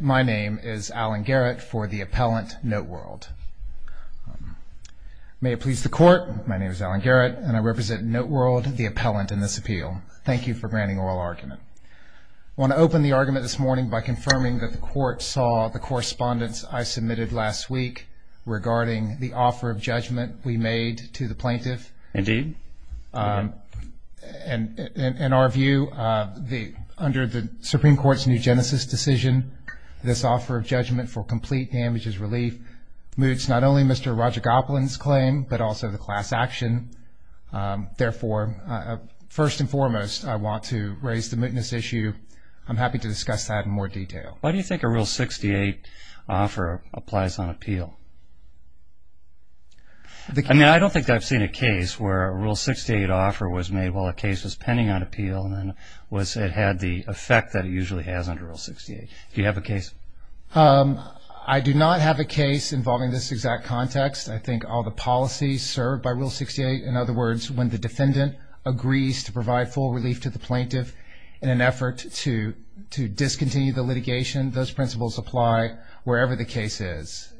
My name is Alan Garrett for the appellant, NoteWorld. May it please the Court, my name is Alan Garrett and I represent NoteWorld, the appellant in this appeal. Thank you for granting oral argument. I want to open the argument this morning by confirming that the Court saw the correspondence I submitted last week regarding the offer of judgment we made to the plaintiff. Indeed. In our view, under the Supreme Court's new genesis decision, this offer of judgment for complete damages relief moots not only Mr. Rajagopalan's claim, but also the class action. Therefore, first and foremost, I want to raise the mootness issue. I'm happy to discuss that in more detail. Why do you think a Rule 68 offer applies on appeal? I mean, I don't think I've seen a case where a Rule 68 offer was made while a case was pending on appeal and then it had the effect that it usually has under Rule 68. Do you have a case? I do not have a case involving this exact context. I think all the policies served by Rule 68, in other words, when the defendant agrees to provide full relief to the plaintiff in an effort to discontinue the litigation, those principles apply wherever the case is.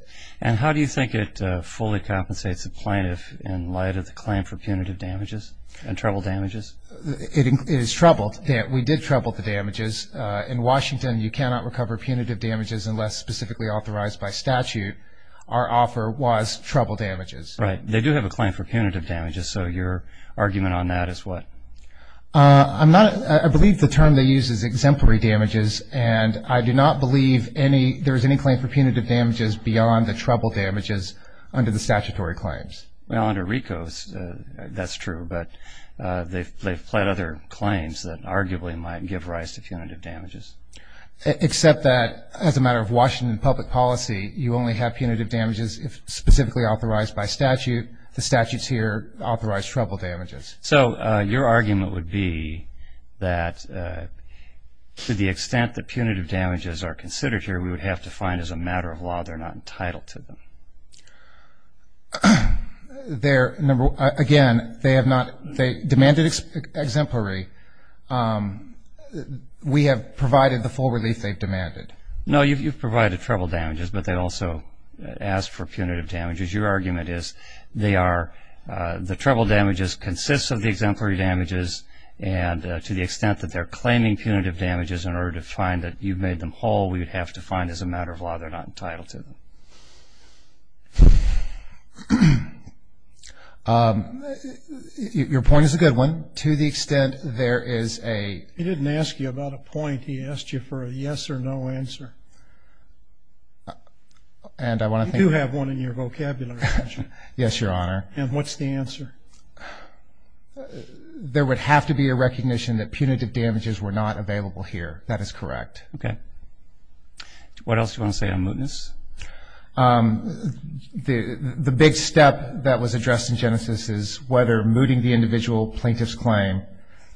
And how do you think it fully compensates the plaintiff in light of the claim for punitive damages and trouble damages? It is trouble. We did trouble the damages. In Washington, you cannot recover punitive damages unless specifically authorized by statute. Our offer was trouble damages. Right. They do have a claim for punitive damages, so your argument on that is what? I believe the term they use is exemplary damages, and I do not believe there is any claim for punitive damages beyond the trouble damages under the statutory claims. Well, under RICO, that's true, but they've pled other claims that arguably might give rise to punitive damages. Except that, as a matter of Washington public policy, you only have punitive damages if specifically authorized by statute. The statutes here authorize trouble damages. So your argument would be that to the extent that punitive damages are considered here, we would have to find as a matter of law they're not entitled to them. Again, they demanded exemplary. We have provided the full relief they've demanded. No, you've provided trouble damages, but they also asked for punitive damages. Your argument is they are the trouble damages consists of the exemplary damages, and to the extent that they're claiming punitive damages in order to find that you've made them whole, we would have to find as a matter of law they're not entitled to them. Your point is a good one. To the extent there is a He didn't ask you about a point. He asked you for a yes or no answer. You do have one in your vocabulary, don't you? Yes, Your Honor. And what's the answer? There would have to be a recognition that punitive damages were not available here. That is correct. Okay. What else do you want to say on mootness? The big step that was addressed in Genesis is whether mooting the individual plaintiff's claim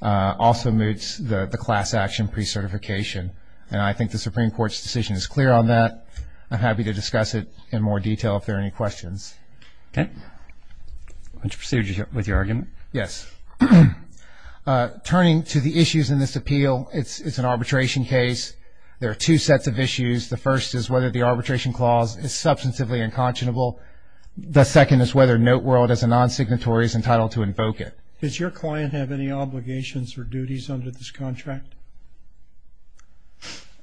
also moots the class action pre-certification. And I think the Supreme Court's decision is clear on that. I'm happy to discuss it in more detail if there are any questions. Okay. Would you proceed with your argument? Yes. Turning to the issues in this appeal, it's an arbitration case. There are two sets of issues. The first is whether the arbitration clause is substantively unconscionable. The second is whether NoteWorld as a non-signatory is entitled to invoke it. Does your client have any obligations or duties under this contract?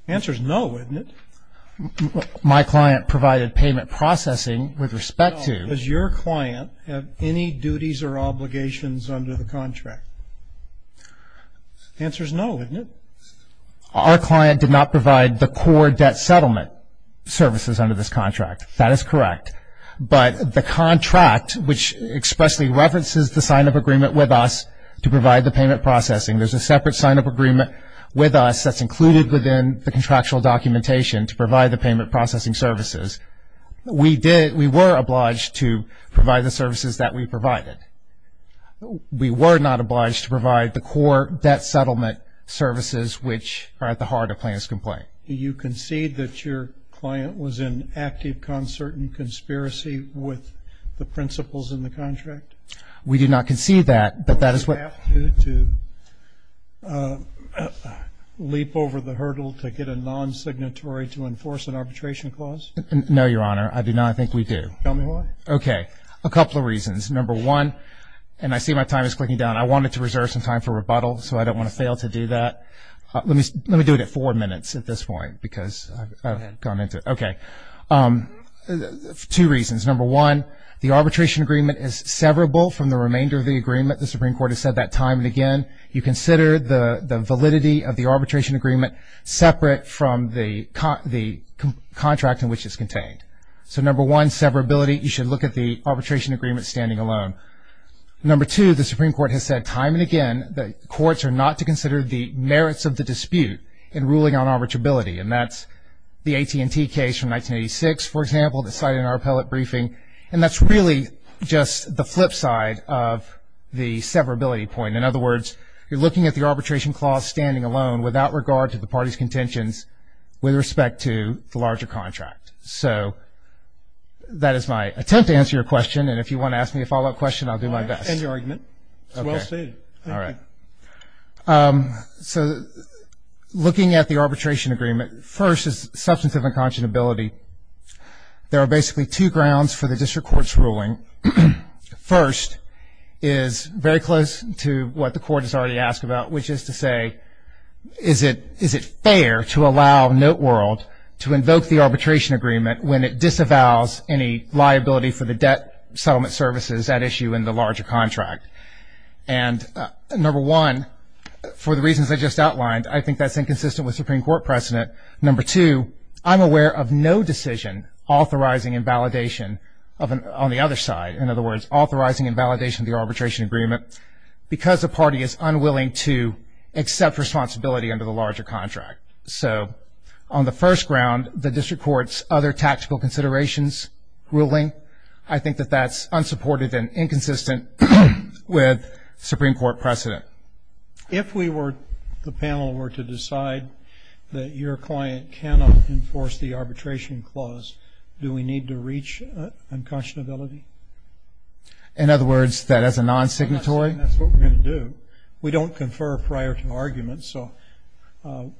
The answer is no, isn't it? My client provided payment processing with respect to. No. Does your client have any duties or obligations under the contract? The answer is no, isn't it? Our client did not provide the core debt settlement services under this contract. That is correct. But the contract, which expressly references the sign-up agreement with us to provide the payment processing, there's a separate sign-up agreement with us that's included within the contractual documentation to provide the payment processing services. We were obliged to provide the services that we provided. We were not obliged to provide the core debt settlement services, which are at the heart of the plaintiff's complaint. Do you concede that your client was in active concert and conspiracy with the principles in the contract? We do not concede that, but that is what. Do you have to leap over the hurdle to get a non-signatory to enforce an arbitration clause? No, Your Honor. I do not think we do. Tell me why. Okay. A couple of reasons. Number one, and I see my time is clicking down, I wanted to reserve some time for rebuttal, so I don't want to fail to do that. Let me do it at four minutes at this point because I've gone into it. Okay. Two reasons. Number one, the arbitration agreement is severable from the remainder of the agreement. The Supreme Court has said that time and again. You consider the validity of the arbitration agreement separate from the contract in which it's contained. So, number one, severability. You should look at the arbitration agreement standing alone. Number two, the Supreme Court has said time and again that courts are not to consider the merits of the dispute in ruling on arbitrability, and that's the AT&T case from 1986, for example, that cited in our appellate briefing, and that's really just the flip side of the severability point. In other words, you're looking at the arbitration clause standing alone without regard to the party's contentions with respect to the larger contract. So that is my attempt to answer your question, and if you want to ask me a follow-up question, I'll do my best. All right. End your argument. It's well stated. Thank you. All right. So, looking at the arbitration agreement, first is substantive unconscionability. There are basically two grounds for the district court's ruling. First is very close to what the court has already asked about, which is to say, is it fair to allow Noteworld to invoke the arbitration agreement when it disavows any liability for the debt settlement services at issue in the larger contract? And, number one, for the reasons I just outlined, I think that's inconsistent with Supreme Court precedent. Number two, I'm aware of no decision authorizing invalidation on the other side. In other words, authorizing invalidation of the arbitration agreement because the party is unwilling to accept responsibility under the larger contract. So, on the first ground, the district court's other tactical considerations ruling, I think that that's unsupported and inconsistent with Supreme Court precedent. If the panel were to decide that your client cannot enforce the arbitration clause, do we need to reach unconscionability? In other words, that as a non-signatory? That's what we're going to do. We don't confer prior to argument, so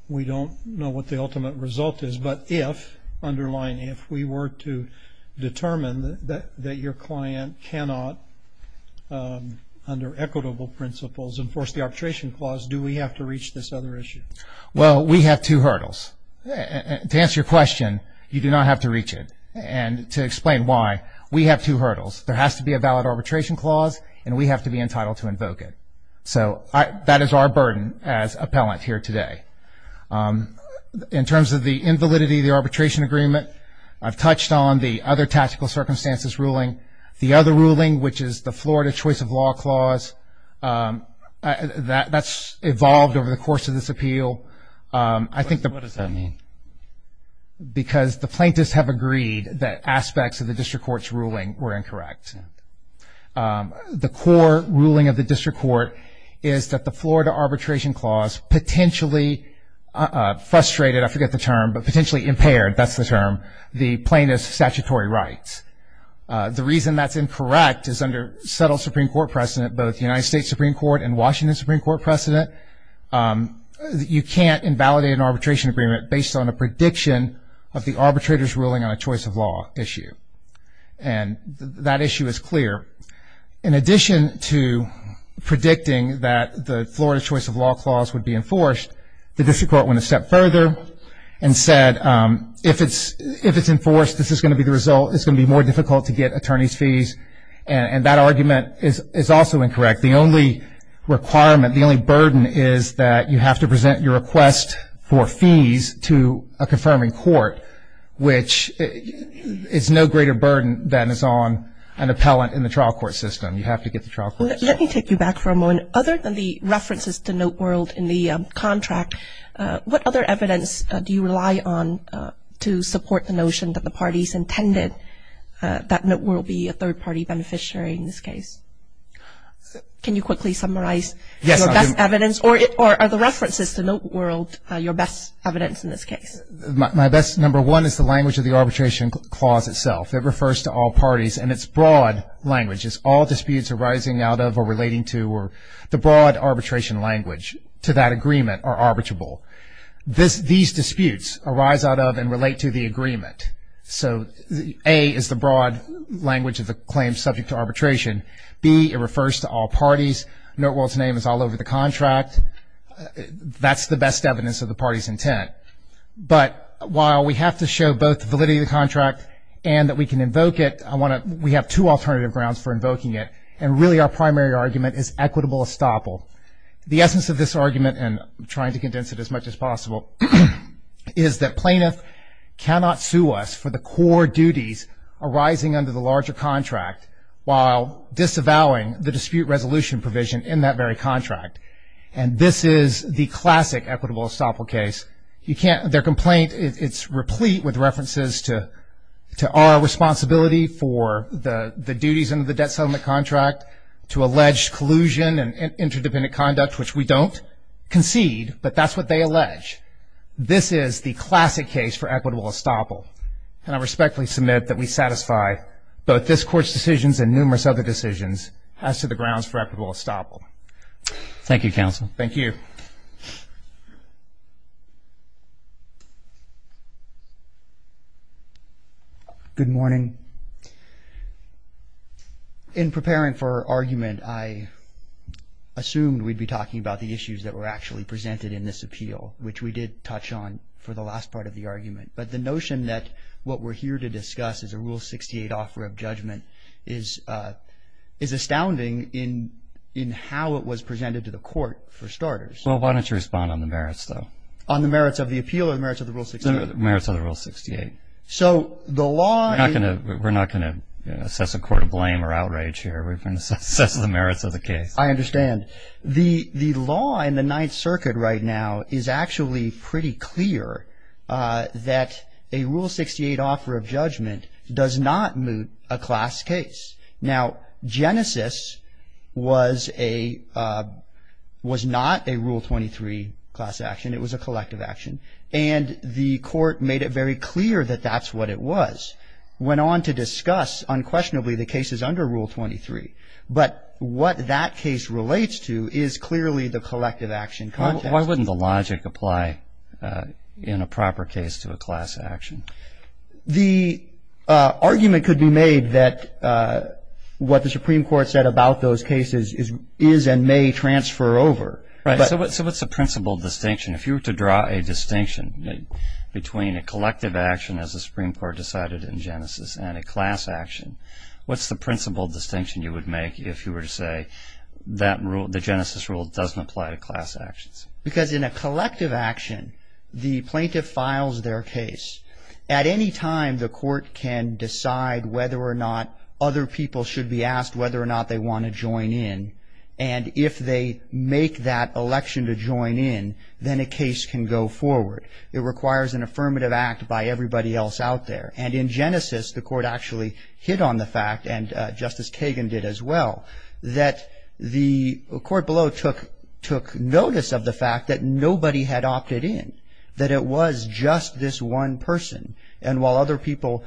we don't know what the ultimate result is. But if, underline if, we were to determine that your client cannot, under equitable principles, enforce the arbitration clause, do we have to reach this other issue? Well, we have two hurdles. To answer your question, you do not have to reach it. And to explain why, we have two hurdles. There has to be a valid arbitration clause, and we have to be entitled to invoke it. So, that is our burden as appellant here today. In terms of the invalidity of the arbitration agreement, I've touched on the other tactical circumstances ruling. The other ruling, which is the Florida Choice of Law Clause, that's evolved over the course of this appeal. What does that mean? Because the plaintiffs have agreed that aspects of the district court's ruling were incorrect. The core ruling of the district court is that the Florida Arbitration Clause potentially frustrated, I forget the term, but potentially impaired, that's the term, the plaintiff's statutory rights. The reason that's incorrect is under settled Supreme Court precedent, both the United States Supreme Court and Washington Supreme Court precedent, you can't invalidate an arbitration agreement based on a prediction of the arbitrator's ruling on a choice of law issue. And that issue is clear. In addition to predicting that the Florida Choice of Law Clause would be enforced, the district court went a step further and said, if it's enforced, this is going to be the result, it's going to be more difficult to get attorney's fees. And that argument is also incorrect. The only requirement, the only burden is that you have to present your request for fees to a confirming court, which is no greater burden than is on an appellant in the trial court system. You have to get the trial court system. Let me take you back for a moment. Other than the references to Noteworld in the contract, what other evidence do you rely on to support the notion that the parties intended that Can you quickly summarize your best evidence? Or are the references to Noteworld your best evidence in this case? My best number one is the language of the arbitration clause itself. It refers to all parties, and it's broad language. It's all disputes arising out of or relating to or the broad arbitration language to that agreement are arbitrable. These disputes arise out of and relate to the agreement. So A is the broad language of the claim subject to arbitration. B, it refers to all parties. Noteworld's name is all over the contract. That's the best evidence of the party's intent. But while we have to show both validity of the contract and that we can invoke it, we have two alternative grounds for invoking it, and really our primary argument is equitable estoppel. The essence of this argument, and I'm trying to condense it as much as possible, is that plaintiff cannot sue us for the core duties arising under the larger contract while disavowing the dispute resolution provision in that very contract, and this is the classic equitable estoppel case. Their complaint, it's replete with references to our responsibility for the duties under the debt settlement contract to allege collusion and interdependent conduct, which we don't concede, but that's what they allege. This is the classic case for equitable estoppel, and I respectfully submit that we satisfy both this Court's decisions and numerous other decisions as to the grounds for equitable estoppel. Thank you, counsel. Thank you. Good morning. In preparing for our argument, I assumed we'd be talking about the issues that were actually presented in this appeal, which we did touch on for the last part of the argument. But the notion that what we're here to discuss is a Rule 68 offer of judgment is astounding in how it was presented to the Court, for starters. Well, why don't you respond on the merits, though? On the merits of the appeal or the merits of the Rule 68? The merits of the Rule 68. So the law… We're not going to assess a court of blame or outrage here. We're going to assess the merits of the case. I understand. The law in the Ninth Circuit right now is actually pretty clear that a Rule 68 offer of judgment does not moot a class case. Now, Genesis was not a Rule 23 class action. It was a collective action. And the Court made it very clear that that's what it was, went on to discuss unquestionably the cases under Rule 23. But what that case relates to is clearly the collective action context. Why wouldn't the logic apply in a proper case to a class action? The argument could be made that what the Supreme Court said about those cases is and may transfer over. Right. So what's the principal distinction? If you were to draw a distinction between a collective action, as the Supreme Court decided in Genesis, and a class action, what's the principal distinction you would make if you were to say that the Genesis Rule doesn't apply to class actions? Because in a collective action, the plaintiff files their case. At any time, the court can decide whether or not other people should be asked whether or not they want to join in. And if they make that election to join in, then a case can go forward. It requires an affirmative act by everybody else out there. And in Genesis, the court actually hit on the fact, and Justice Kagan did as well, that the court below took notice of the fact that nobody had opted in, that it was just this one person. And while other people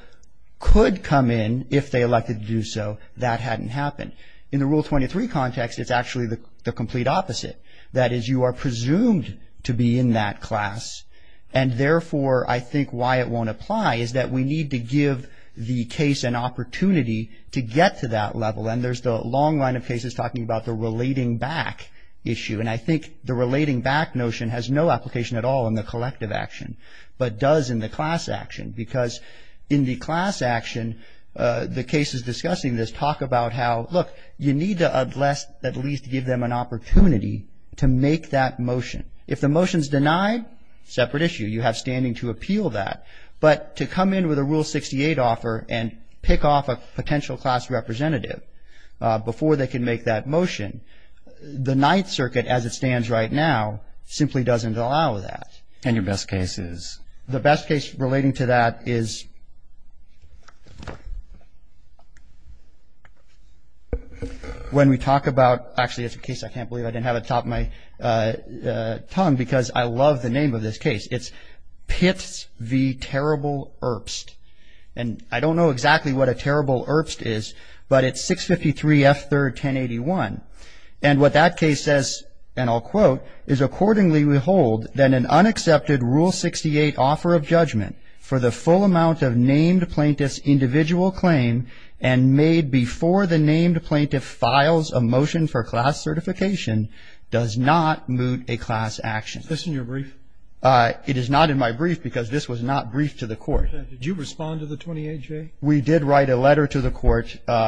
could come in if they elected to do so, that hadn't happened. In the Rule 23 context, it's actually the complete opposite. That is, you are presumed to be in that class, and therefore I think why it won't apply is that we need to give the case an opportunity to get to that level. And there's the long line of cases talking about the relating back issue. And I think the relating back notion has no application at all in the collective action, but does in the class action. Because in the class action, the cases discussing this talk about how, look, you need to at least give them an opportunity to make that motion. If the motion's denied, separate issue. You have standing to appeal that. But to come in with a Rule 68 offer and pick off a potential class representative before they can make that motion, the Ninth Circuit, as it stands right now, simply doesn't allow that. And your best case is? The best case relating to that is when we talk about, actually, it's a case I can't believe I didn't have it at the top of my tongue, because I love the name of this case. It's Pitts v. Terrible Erbst. And I don't know exactly what a Terrible Erbst is, but it's 653 F. 3rd, 1081. And what that case says, and I'll quote, Is this in your brief? It is not in my brief, because this was not briefed to the court. Did you respond to the 28th, Jay? We did write a letter to the court responding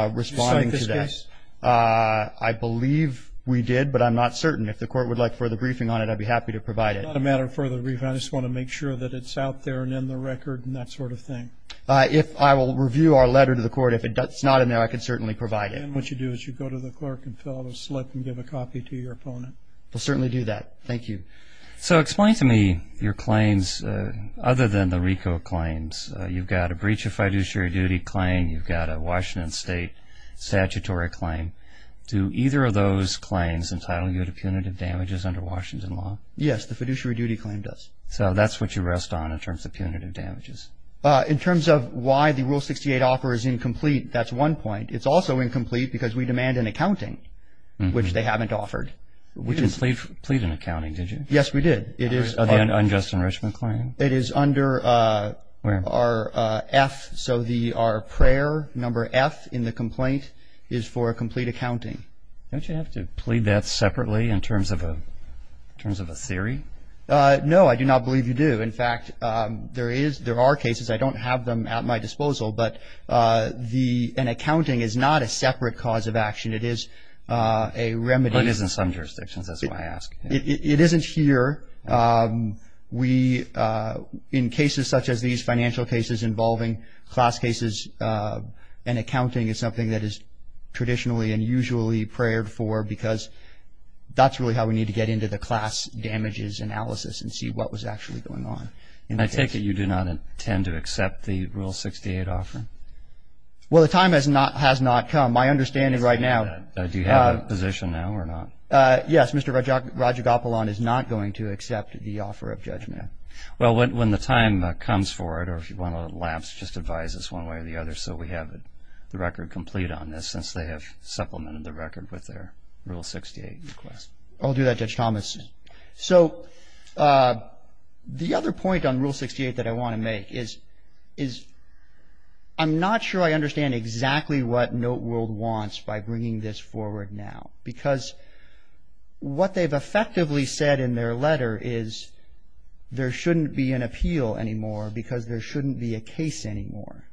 to that. Did you sign this case? I believe we did, but I'm not certain. I don't know. I don't know. I don't know. I don't know. It's not a matter of further briefing. I just want to make sure that it's out there and in the record and that sort of thing. If I will review our letter to the court, if it's not in there, I can certainly provide it. And what you do is you go to the clerk and fill out a slip and give a copy to your opponent. I'll certainly do that. Thank you. So explain to me your claims, other than the RICO claims. You've got a breach of fiduciary duty claim. You've got a Washington State statutory claim. Do either of those claims entitle you to punitive damages under Washington law? Yes, the fiduciary duty claim does. So that's what you rest on in terms of punitive damages. In terms of why the Rule 68 offer is incomplete, that's one point. It's also incomplete because we demand an accounting, which they haven't offered. We didn't plead an accounting, did you? Yes, we did. It is. The unjust enrichment claim? It is under our F. So our prayer number F in the complaint is for a complete accounting. Don't you have to plead that separately in terms of a theory? No, I do not believe you do. In fact, there are cases, I don't have them at my disposal, but an accounting is not a separate cause of action. It is a remedy. But it is in some jurisdictions. That's why I ask. It isn't here. In cases such as these, financial cases involving class cases, an accounting is something that is traditionally and usually prayed for because that's really how we need to get into the class damages analysis and see what was actually going on. And I take it you do not intend to accept the Rule 68 offer? Well, the time has not come. My understanding right now. Do you have a position now or not? Yes, Mr. Rajagopalan is not going to accept the offer of judgment. Well, when the time comes for it or if you want to elapse, just advise us one way or the other so we have the record complete on this since they have supplemented the record with their Rule 68 request. I'll do that, Judge Thomas. So the other point on Rule 68 that I want to make is I'm not sure I understand exactly what Noteworld wants by bringing this forward now because what they've effectively said in their letter is there shouldn't be an appeal anymore because there shouldn't be a case anymore.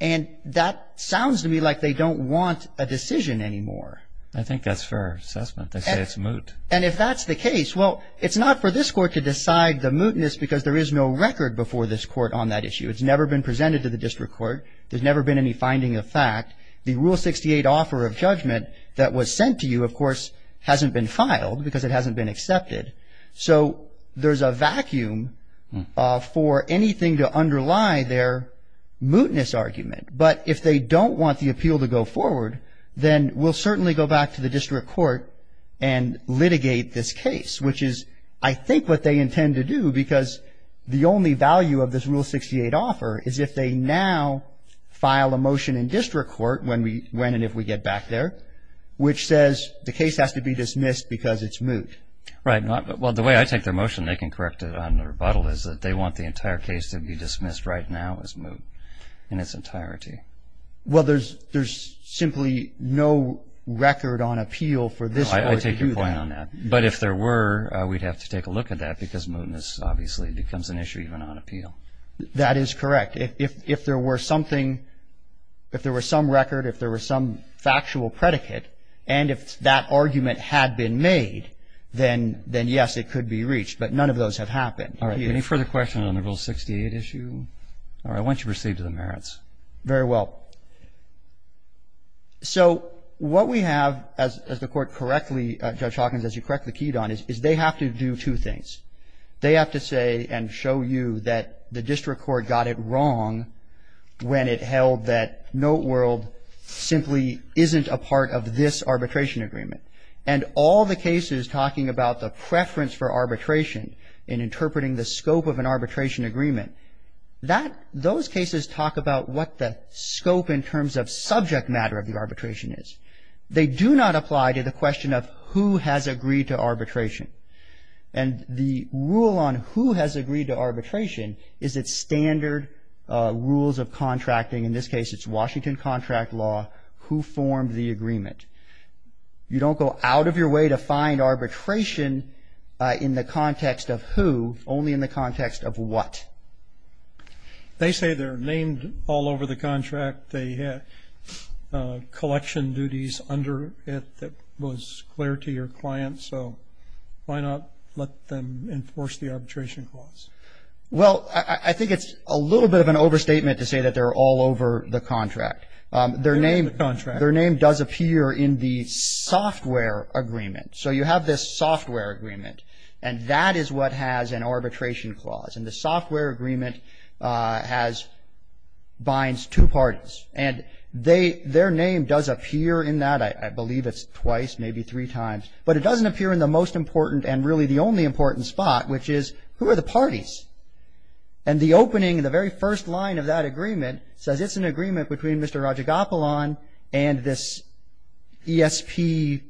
And that sounds to me like they don't want a decision anymore. I think that's fair assessment. They say it's moot. And if that's the case, well, it's not for this Court to decide the mootness because there is no record before this Court on that issue. It's never been presented to the District Court. There's never been any finding of fact. The Rule 68 offer of judgment that was sent to you, of course, hasn't been filed because it hasn't been accepted. So there's a vacuum for anything to underlie their mootness argument. But if they don't want the appeal to go forward, then we'll certainly go back to the District Court and litigate this case, which is I think what they intend to do because the only value of this Rule 68 offer is if they now file a motion in District Court when and if we get back there, which says the case has to be dismissed because it's moot. Right. Well, the way I take their motion, they can correct it on rebuttal, is that they want the entire case to be dismissed right now as moot in its entirety. Well, there's simply no record on appeal for this Court to do that. I take your point on that. But if there were, we'd have to take a look at that because mootness obviously becomes an issue even on appeal. That is correct. If there were something, if there were some record, if there were some factual predicate, and if that argument had been made, then yes, it could be reached. But none of those have happened. All right. Any further questions on the Rule 68 issue? All right. I want you to proceed to the merits. Very well. So what we have, as the Court correctly, Judge Hawkins, as you correctly keyed on, is they have to do two things. They have to say and show you that the District Court got it wrong when it held that Note World simply isn't a part of this arbitration agreement. And all the cases talking about the preference for arbitration in interpreting the scope of an arbitration agreement, those cases talk about what the scope in terms of subject matter of the arbitration is. They do not apply to the question of who has agreed to arbitration. And the rule on who has agreed to arbitration is its standard rules of contracting. In this case, it's Washington contract law, who formed the agreement. You don't go out of your way to find arbitration in the context of who, only in the context of what. They say they're named all over the contract. They have collection duties under it that was clear to your client. So why not let them enforce the arbitration clause? Well, I think it's a little bit of an overstatement to say that they're all over the contract. They're not in the contract. Their name does appear in the software agreement. So you have this software agreement, and that is what has an arbitration clause. And the software agreement binds two parties. And their name does appear in that. I believe it's twice, maybe three times. But it doesn't appear in the most important and really the only important spot, which is who are the parties. And the opening, the very first line of that agreement, says it's an agreement between Mr. Rajagopalan and this ESP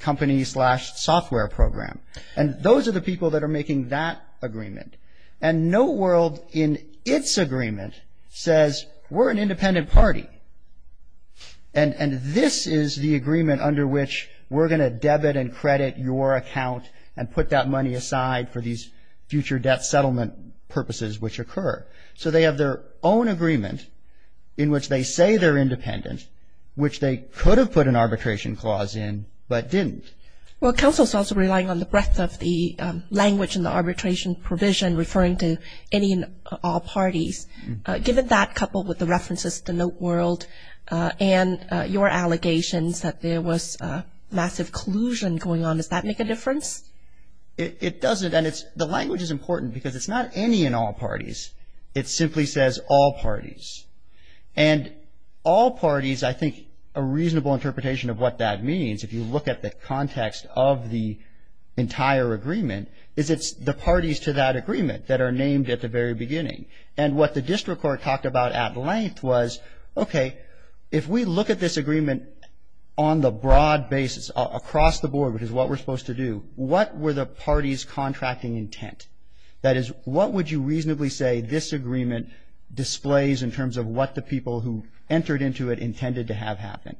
company slash software program. And those are the people that are making that agreement. And no world in its agreement says we're an independent party. And this is the agreement under which we're going to debit and credit your account and put that money aside for these future debt settlement purposes which occur. So they have their own agreement in which they say they're independent, which they could have put an arbitration clause in but didn't. Well, counsel is also relying on the breadth of the language in the arbitration provision referring to any and all parties. Given that, coupled with the references to NoteWorld and your allegations that there was massive collusion going on, does that make a difference? It doesn't. And the language is important because it's not any and all parties. It simply says all parties. And all parties, I think, a reasonable interpretation of what that means, if you look at the context of the entire agreement, is it's the parties to that agreement that are named at the very beginning. And what the district court talked about at length was, okay, if we look at this agreement on the broad basis across the board, which is what we're supposed to do, what were the parties' contracting intent? That is, what would you reasonably say this agreement displays in terms of what the people who entered into it intended to have happen?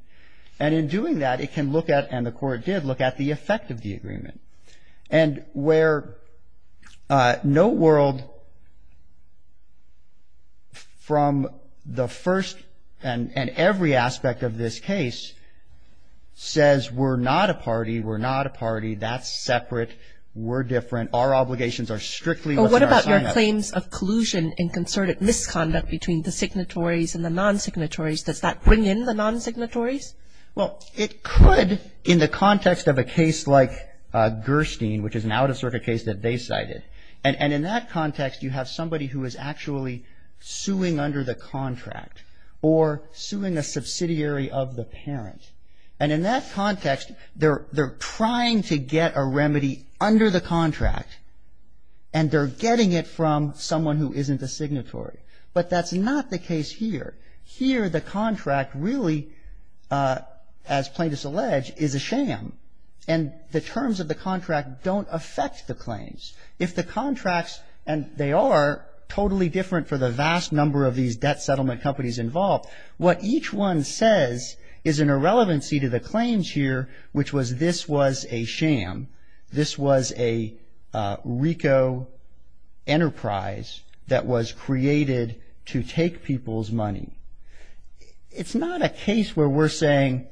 And in doing that, it can look at, and the court did look at, the effect of the agreement. And where NoteWorld, from the first and every aspect of this case, says we're not a party, we're not a party, that's separate, we're different, our obligations are strictly what's in our signup. But what about your claims of collusion and concerted misconduct between the signatories and the non-signatories? Does that bring in the non-signatories? Well, it could in the context of a case like Gerstein, which is an out-of-circuit case that they cited. And in that context, you have somebody who is actually suing under the contract or suing a subsidiary of the parent. And in that context, they're trying to get a remedy under the contract and they're getting it from someone who isn't a signatory. But that's not the case here. Here, the contract really, as plaintiffs allege, is a sham. And the terms of the contract don't affect the claims. If the contracts, and they are totally different for the vast number of these debt settlement companies involved, what each one says is an irrelevancy to the claims here, which was this was a sham. This was a RICO enterprise that was created to take people's money. It's not a case where we're saying,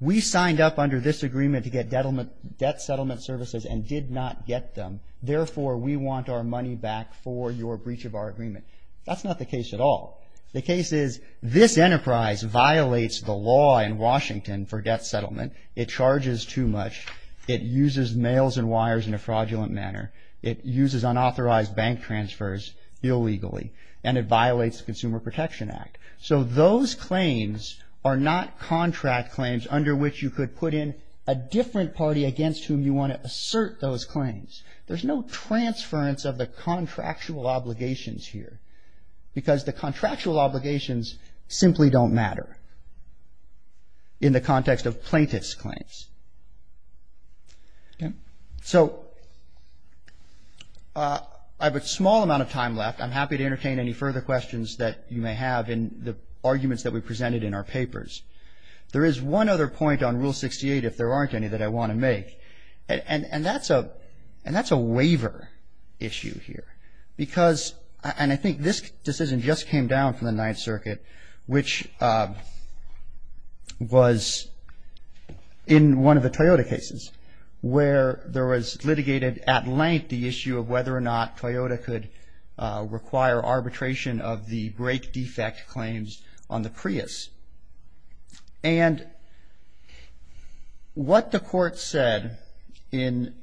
we signed up under this agreement to get debt settlement services and did not get them. Therefore, we want our money back for your breach of our agreement. That's not the case at all. The case is, this enterprise violates the law in Washington for debt settlement. It charges too much. It uses mails and wires in a fraudulent manner. It uses unauthorized bank transfers illegally. And it violates the Consumer Protection Act. So those claims are not contract claims under which you could put in a different party against whom you want to assert those claims. There's no transference of the contractual obligations here. Because the contractual obligations simply don't matter in the context of plaintiff's claims. So I have a small amount of time left. I'm happy to entertain any further questions that you may have in the arguments that we presented in our papers. There is one other point on Rule 68, if there aren't any, that I want to make. And that's a waiver issue here. Because, and I think this decision just came down from the Ninth Circuit, which was in one of the Toyota cases, where there was litigated at length the issue of whether or not Toyota could require arbitration of the brake defect claims on the Prius. And what the court said in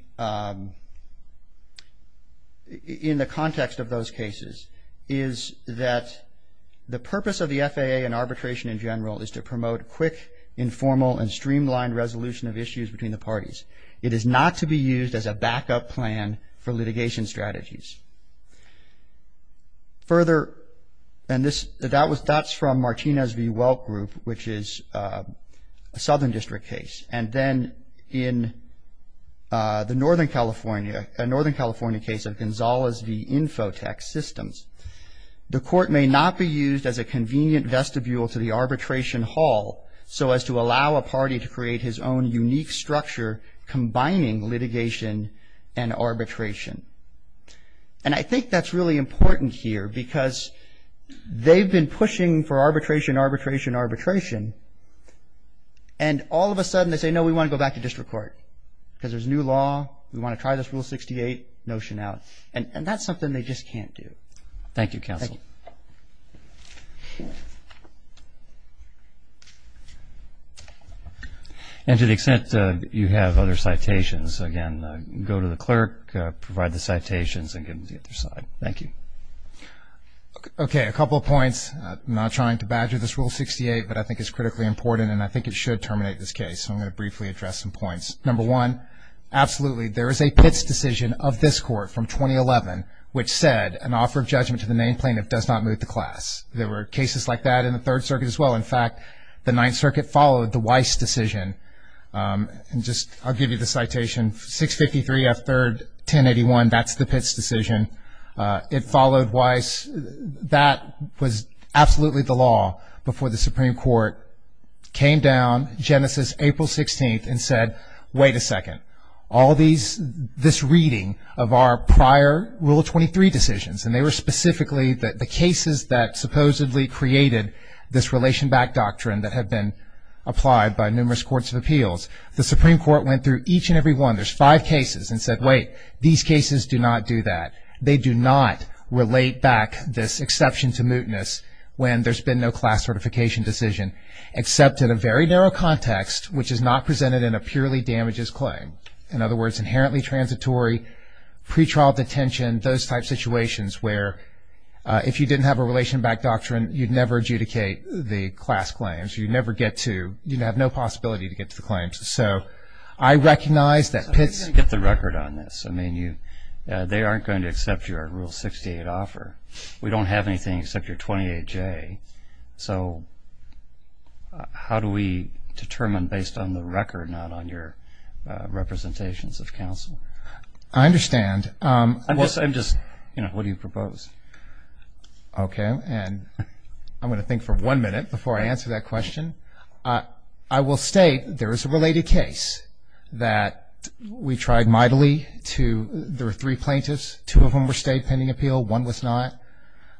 the context of those cases is that the purpose of the FAA and arbitration in general is to promote quick, informal, and streamlined resolution of issues between the parties. It is not to be used as a backup plan for litigation strategies. Further, and that's from Martinez v. Welk Group, which is a Southern District case. And then in the Northern California case of Gonzales v. Infotech Systems, the court may not be used as a convenient vestibule to the arbitration hall so as to allow a party to create his own unique structure combining litigation and arbitration. And I think that's really important here, because they've been pushing for arbitration, arbitration, arbitration. And all of a sudden they say, no, we want to go back to district court, because there's new law, we want to try this Rule 68 notion out. And that's something they just can't do. Thank you, counsel. And to the extent you have other citations, again, go to the clerk, provide the citations, and give them to the other side. Thank you. Okay, a couple of points. I'm not trying to badger this Rule 68, but I think it's critically important, and I think it should terminate this case, so I'm going to briefly address some points. Number one, absolutely, there is a Pitts decision of this court from 2011, which said an offer of judgment to the named plaintiff does not move the class. There were cases like that in the Third Circuit as well. In fact, the Ninth Circuit followed the Weiss decision. I'll give you the citation. 653 F. 3rd, 1081, that's the Pitts decision. It followed Weiss. That was absolutely the law before the Supreme Court came down, Genesis, April 16th, and said, wait a second, all this reading of our prior Rule 23 decisions, and they were specifically the cases that supposedly created this relation-backed The Supreme Court went through each and every one. There's five cases and said, wait, these cases do not do that. They do not relate back this exception to mootness when there's been no class certification decision, except in a very narrow context, which is not presented in a purely damages claim. In other words, inherently transitory, pretrial detention, those type situations where if you didn't have a relation-backed doctrine, you'd never adjudicate the class claims. You'd never get to, you'd have no possibility to get to the claims. So I recognize that Pitts- So how are you going to get the record on this? I mean, they aren't going to accept your Rule 68 offer. We don't have anything except your 28J. So how do we determine based on the record, not on your representations of counsel? I understand. I'm just- What do you propose? Okay. And I'm going to think for one minute before I answer that question. I will state there is a related case that we tried mightily to- there were three plaintiffs. Two of them were stayed pending appeal. One was not.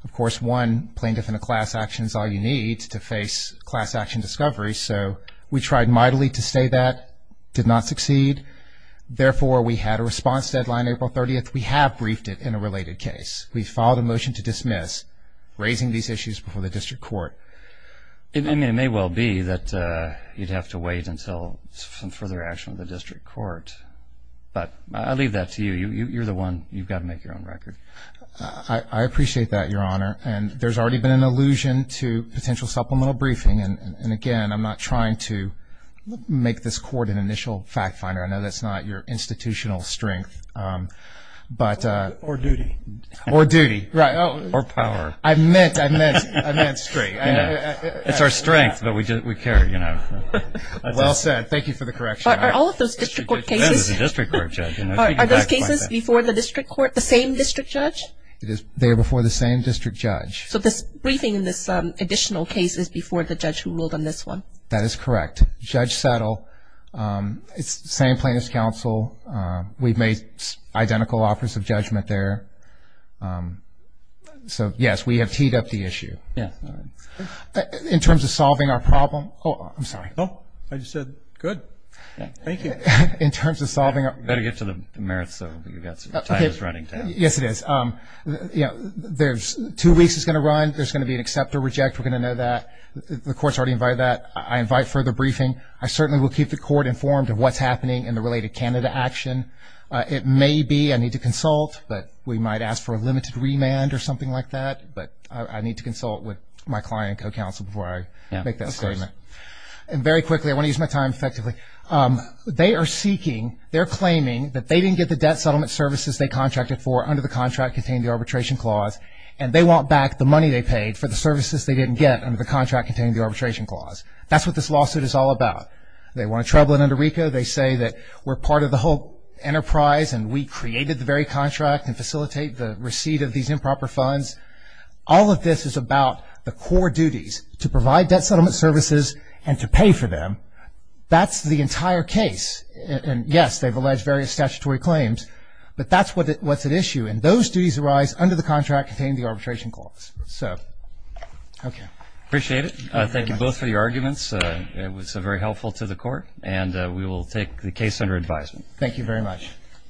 Of course, one plaintiff in a class action is all you need to face class action discovery. So we tried mightily to stay that, did not succeed. Therefore, we had a response deadline April 30th. We have briefed it in a related case. We filed a motion to dismiss, raising these issues before the district court. It may well be that you'd have to wait until some further action of the district court. But I'll leave that to you. You're the one. You've got to make your own record. I appreciate that, Your Honor. And there's already been an allusion to potential supplemental briefing. And, again, I'm not trying to make this court an initial fact finder. I know that's not your institutional strength. Or duty. Or duty. Or power. I meant straight. It's our strength, but we care, you know. Well said. Thank you for the correction. Are all of those district court cases- This is a district court judge. Are those cases before the district court, the same district judge? They are before the same district judge. So this briefing in this additional case is before the judge who ruled on this one? That is correct. Judge Settle. It's the same plaintiff's counsel. We've made identical offers of judgment there. So, yes, we have teed up the issue. Yes. All right. In terms of solving our problem-oh, I'm sorry. Oh, I just said good. Thank you. In terms of solving our- You've got to get to the merits, so you've got some running time. Yes, it is. You know, there's two weeks it's going to run. There's going to be an accept or reject. We're going to know that. The court's already invited that. I invite further briefing. I certainly will keep the court informed of what's happening in the related Canada action. It may be I need to consult, but we might ask for a limited remand or something like that. But I need to consult with my client co-counsel before I make that statement. Yes, of course. And very quickly, I want to use my time effectively. They are seeking-they're claiming that they didn't get the debt settlement services they contracted for under the contract containing the arbitration clause, and they want back the money they paid for the services they didn't get under the contract containing the arbitration clause. That's what this lawsuit is all about. They want to trouble it under RICO. They say that we're part of the whole enterprise and we created the very contract and facilitate the receipt of these improper funds. All of this is about the core duties to provide debt settlement services and to pay for them. That's the entire case. And, yes, they've alleged various statutory claims, but that's what's at issue. And those duties arise under the contract containing the arbitration clause. So, okay. Appreciate it. Thank you both for your arguments. It was very helpful to the court, and we will take the case under advisement. Thank you very much.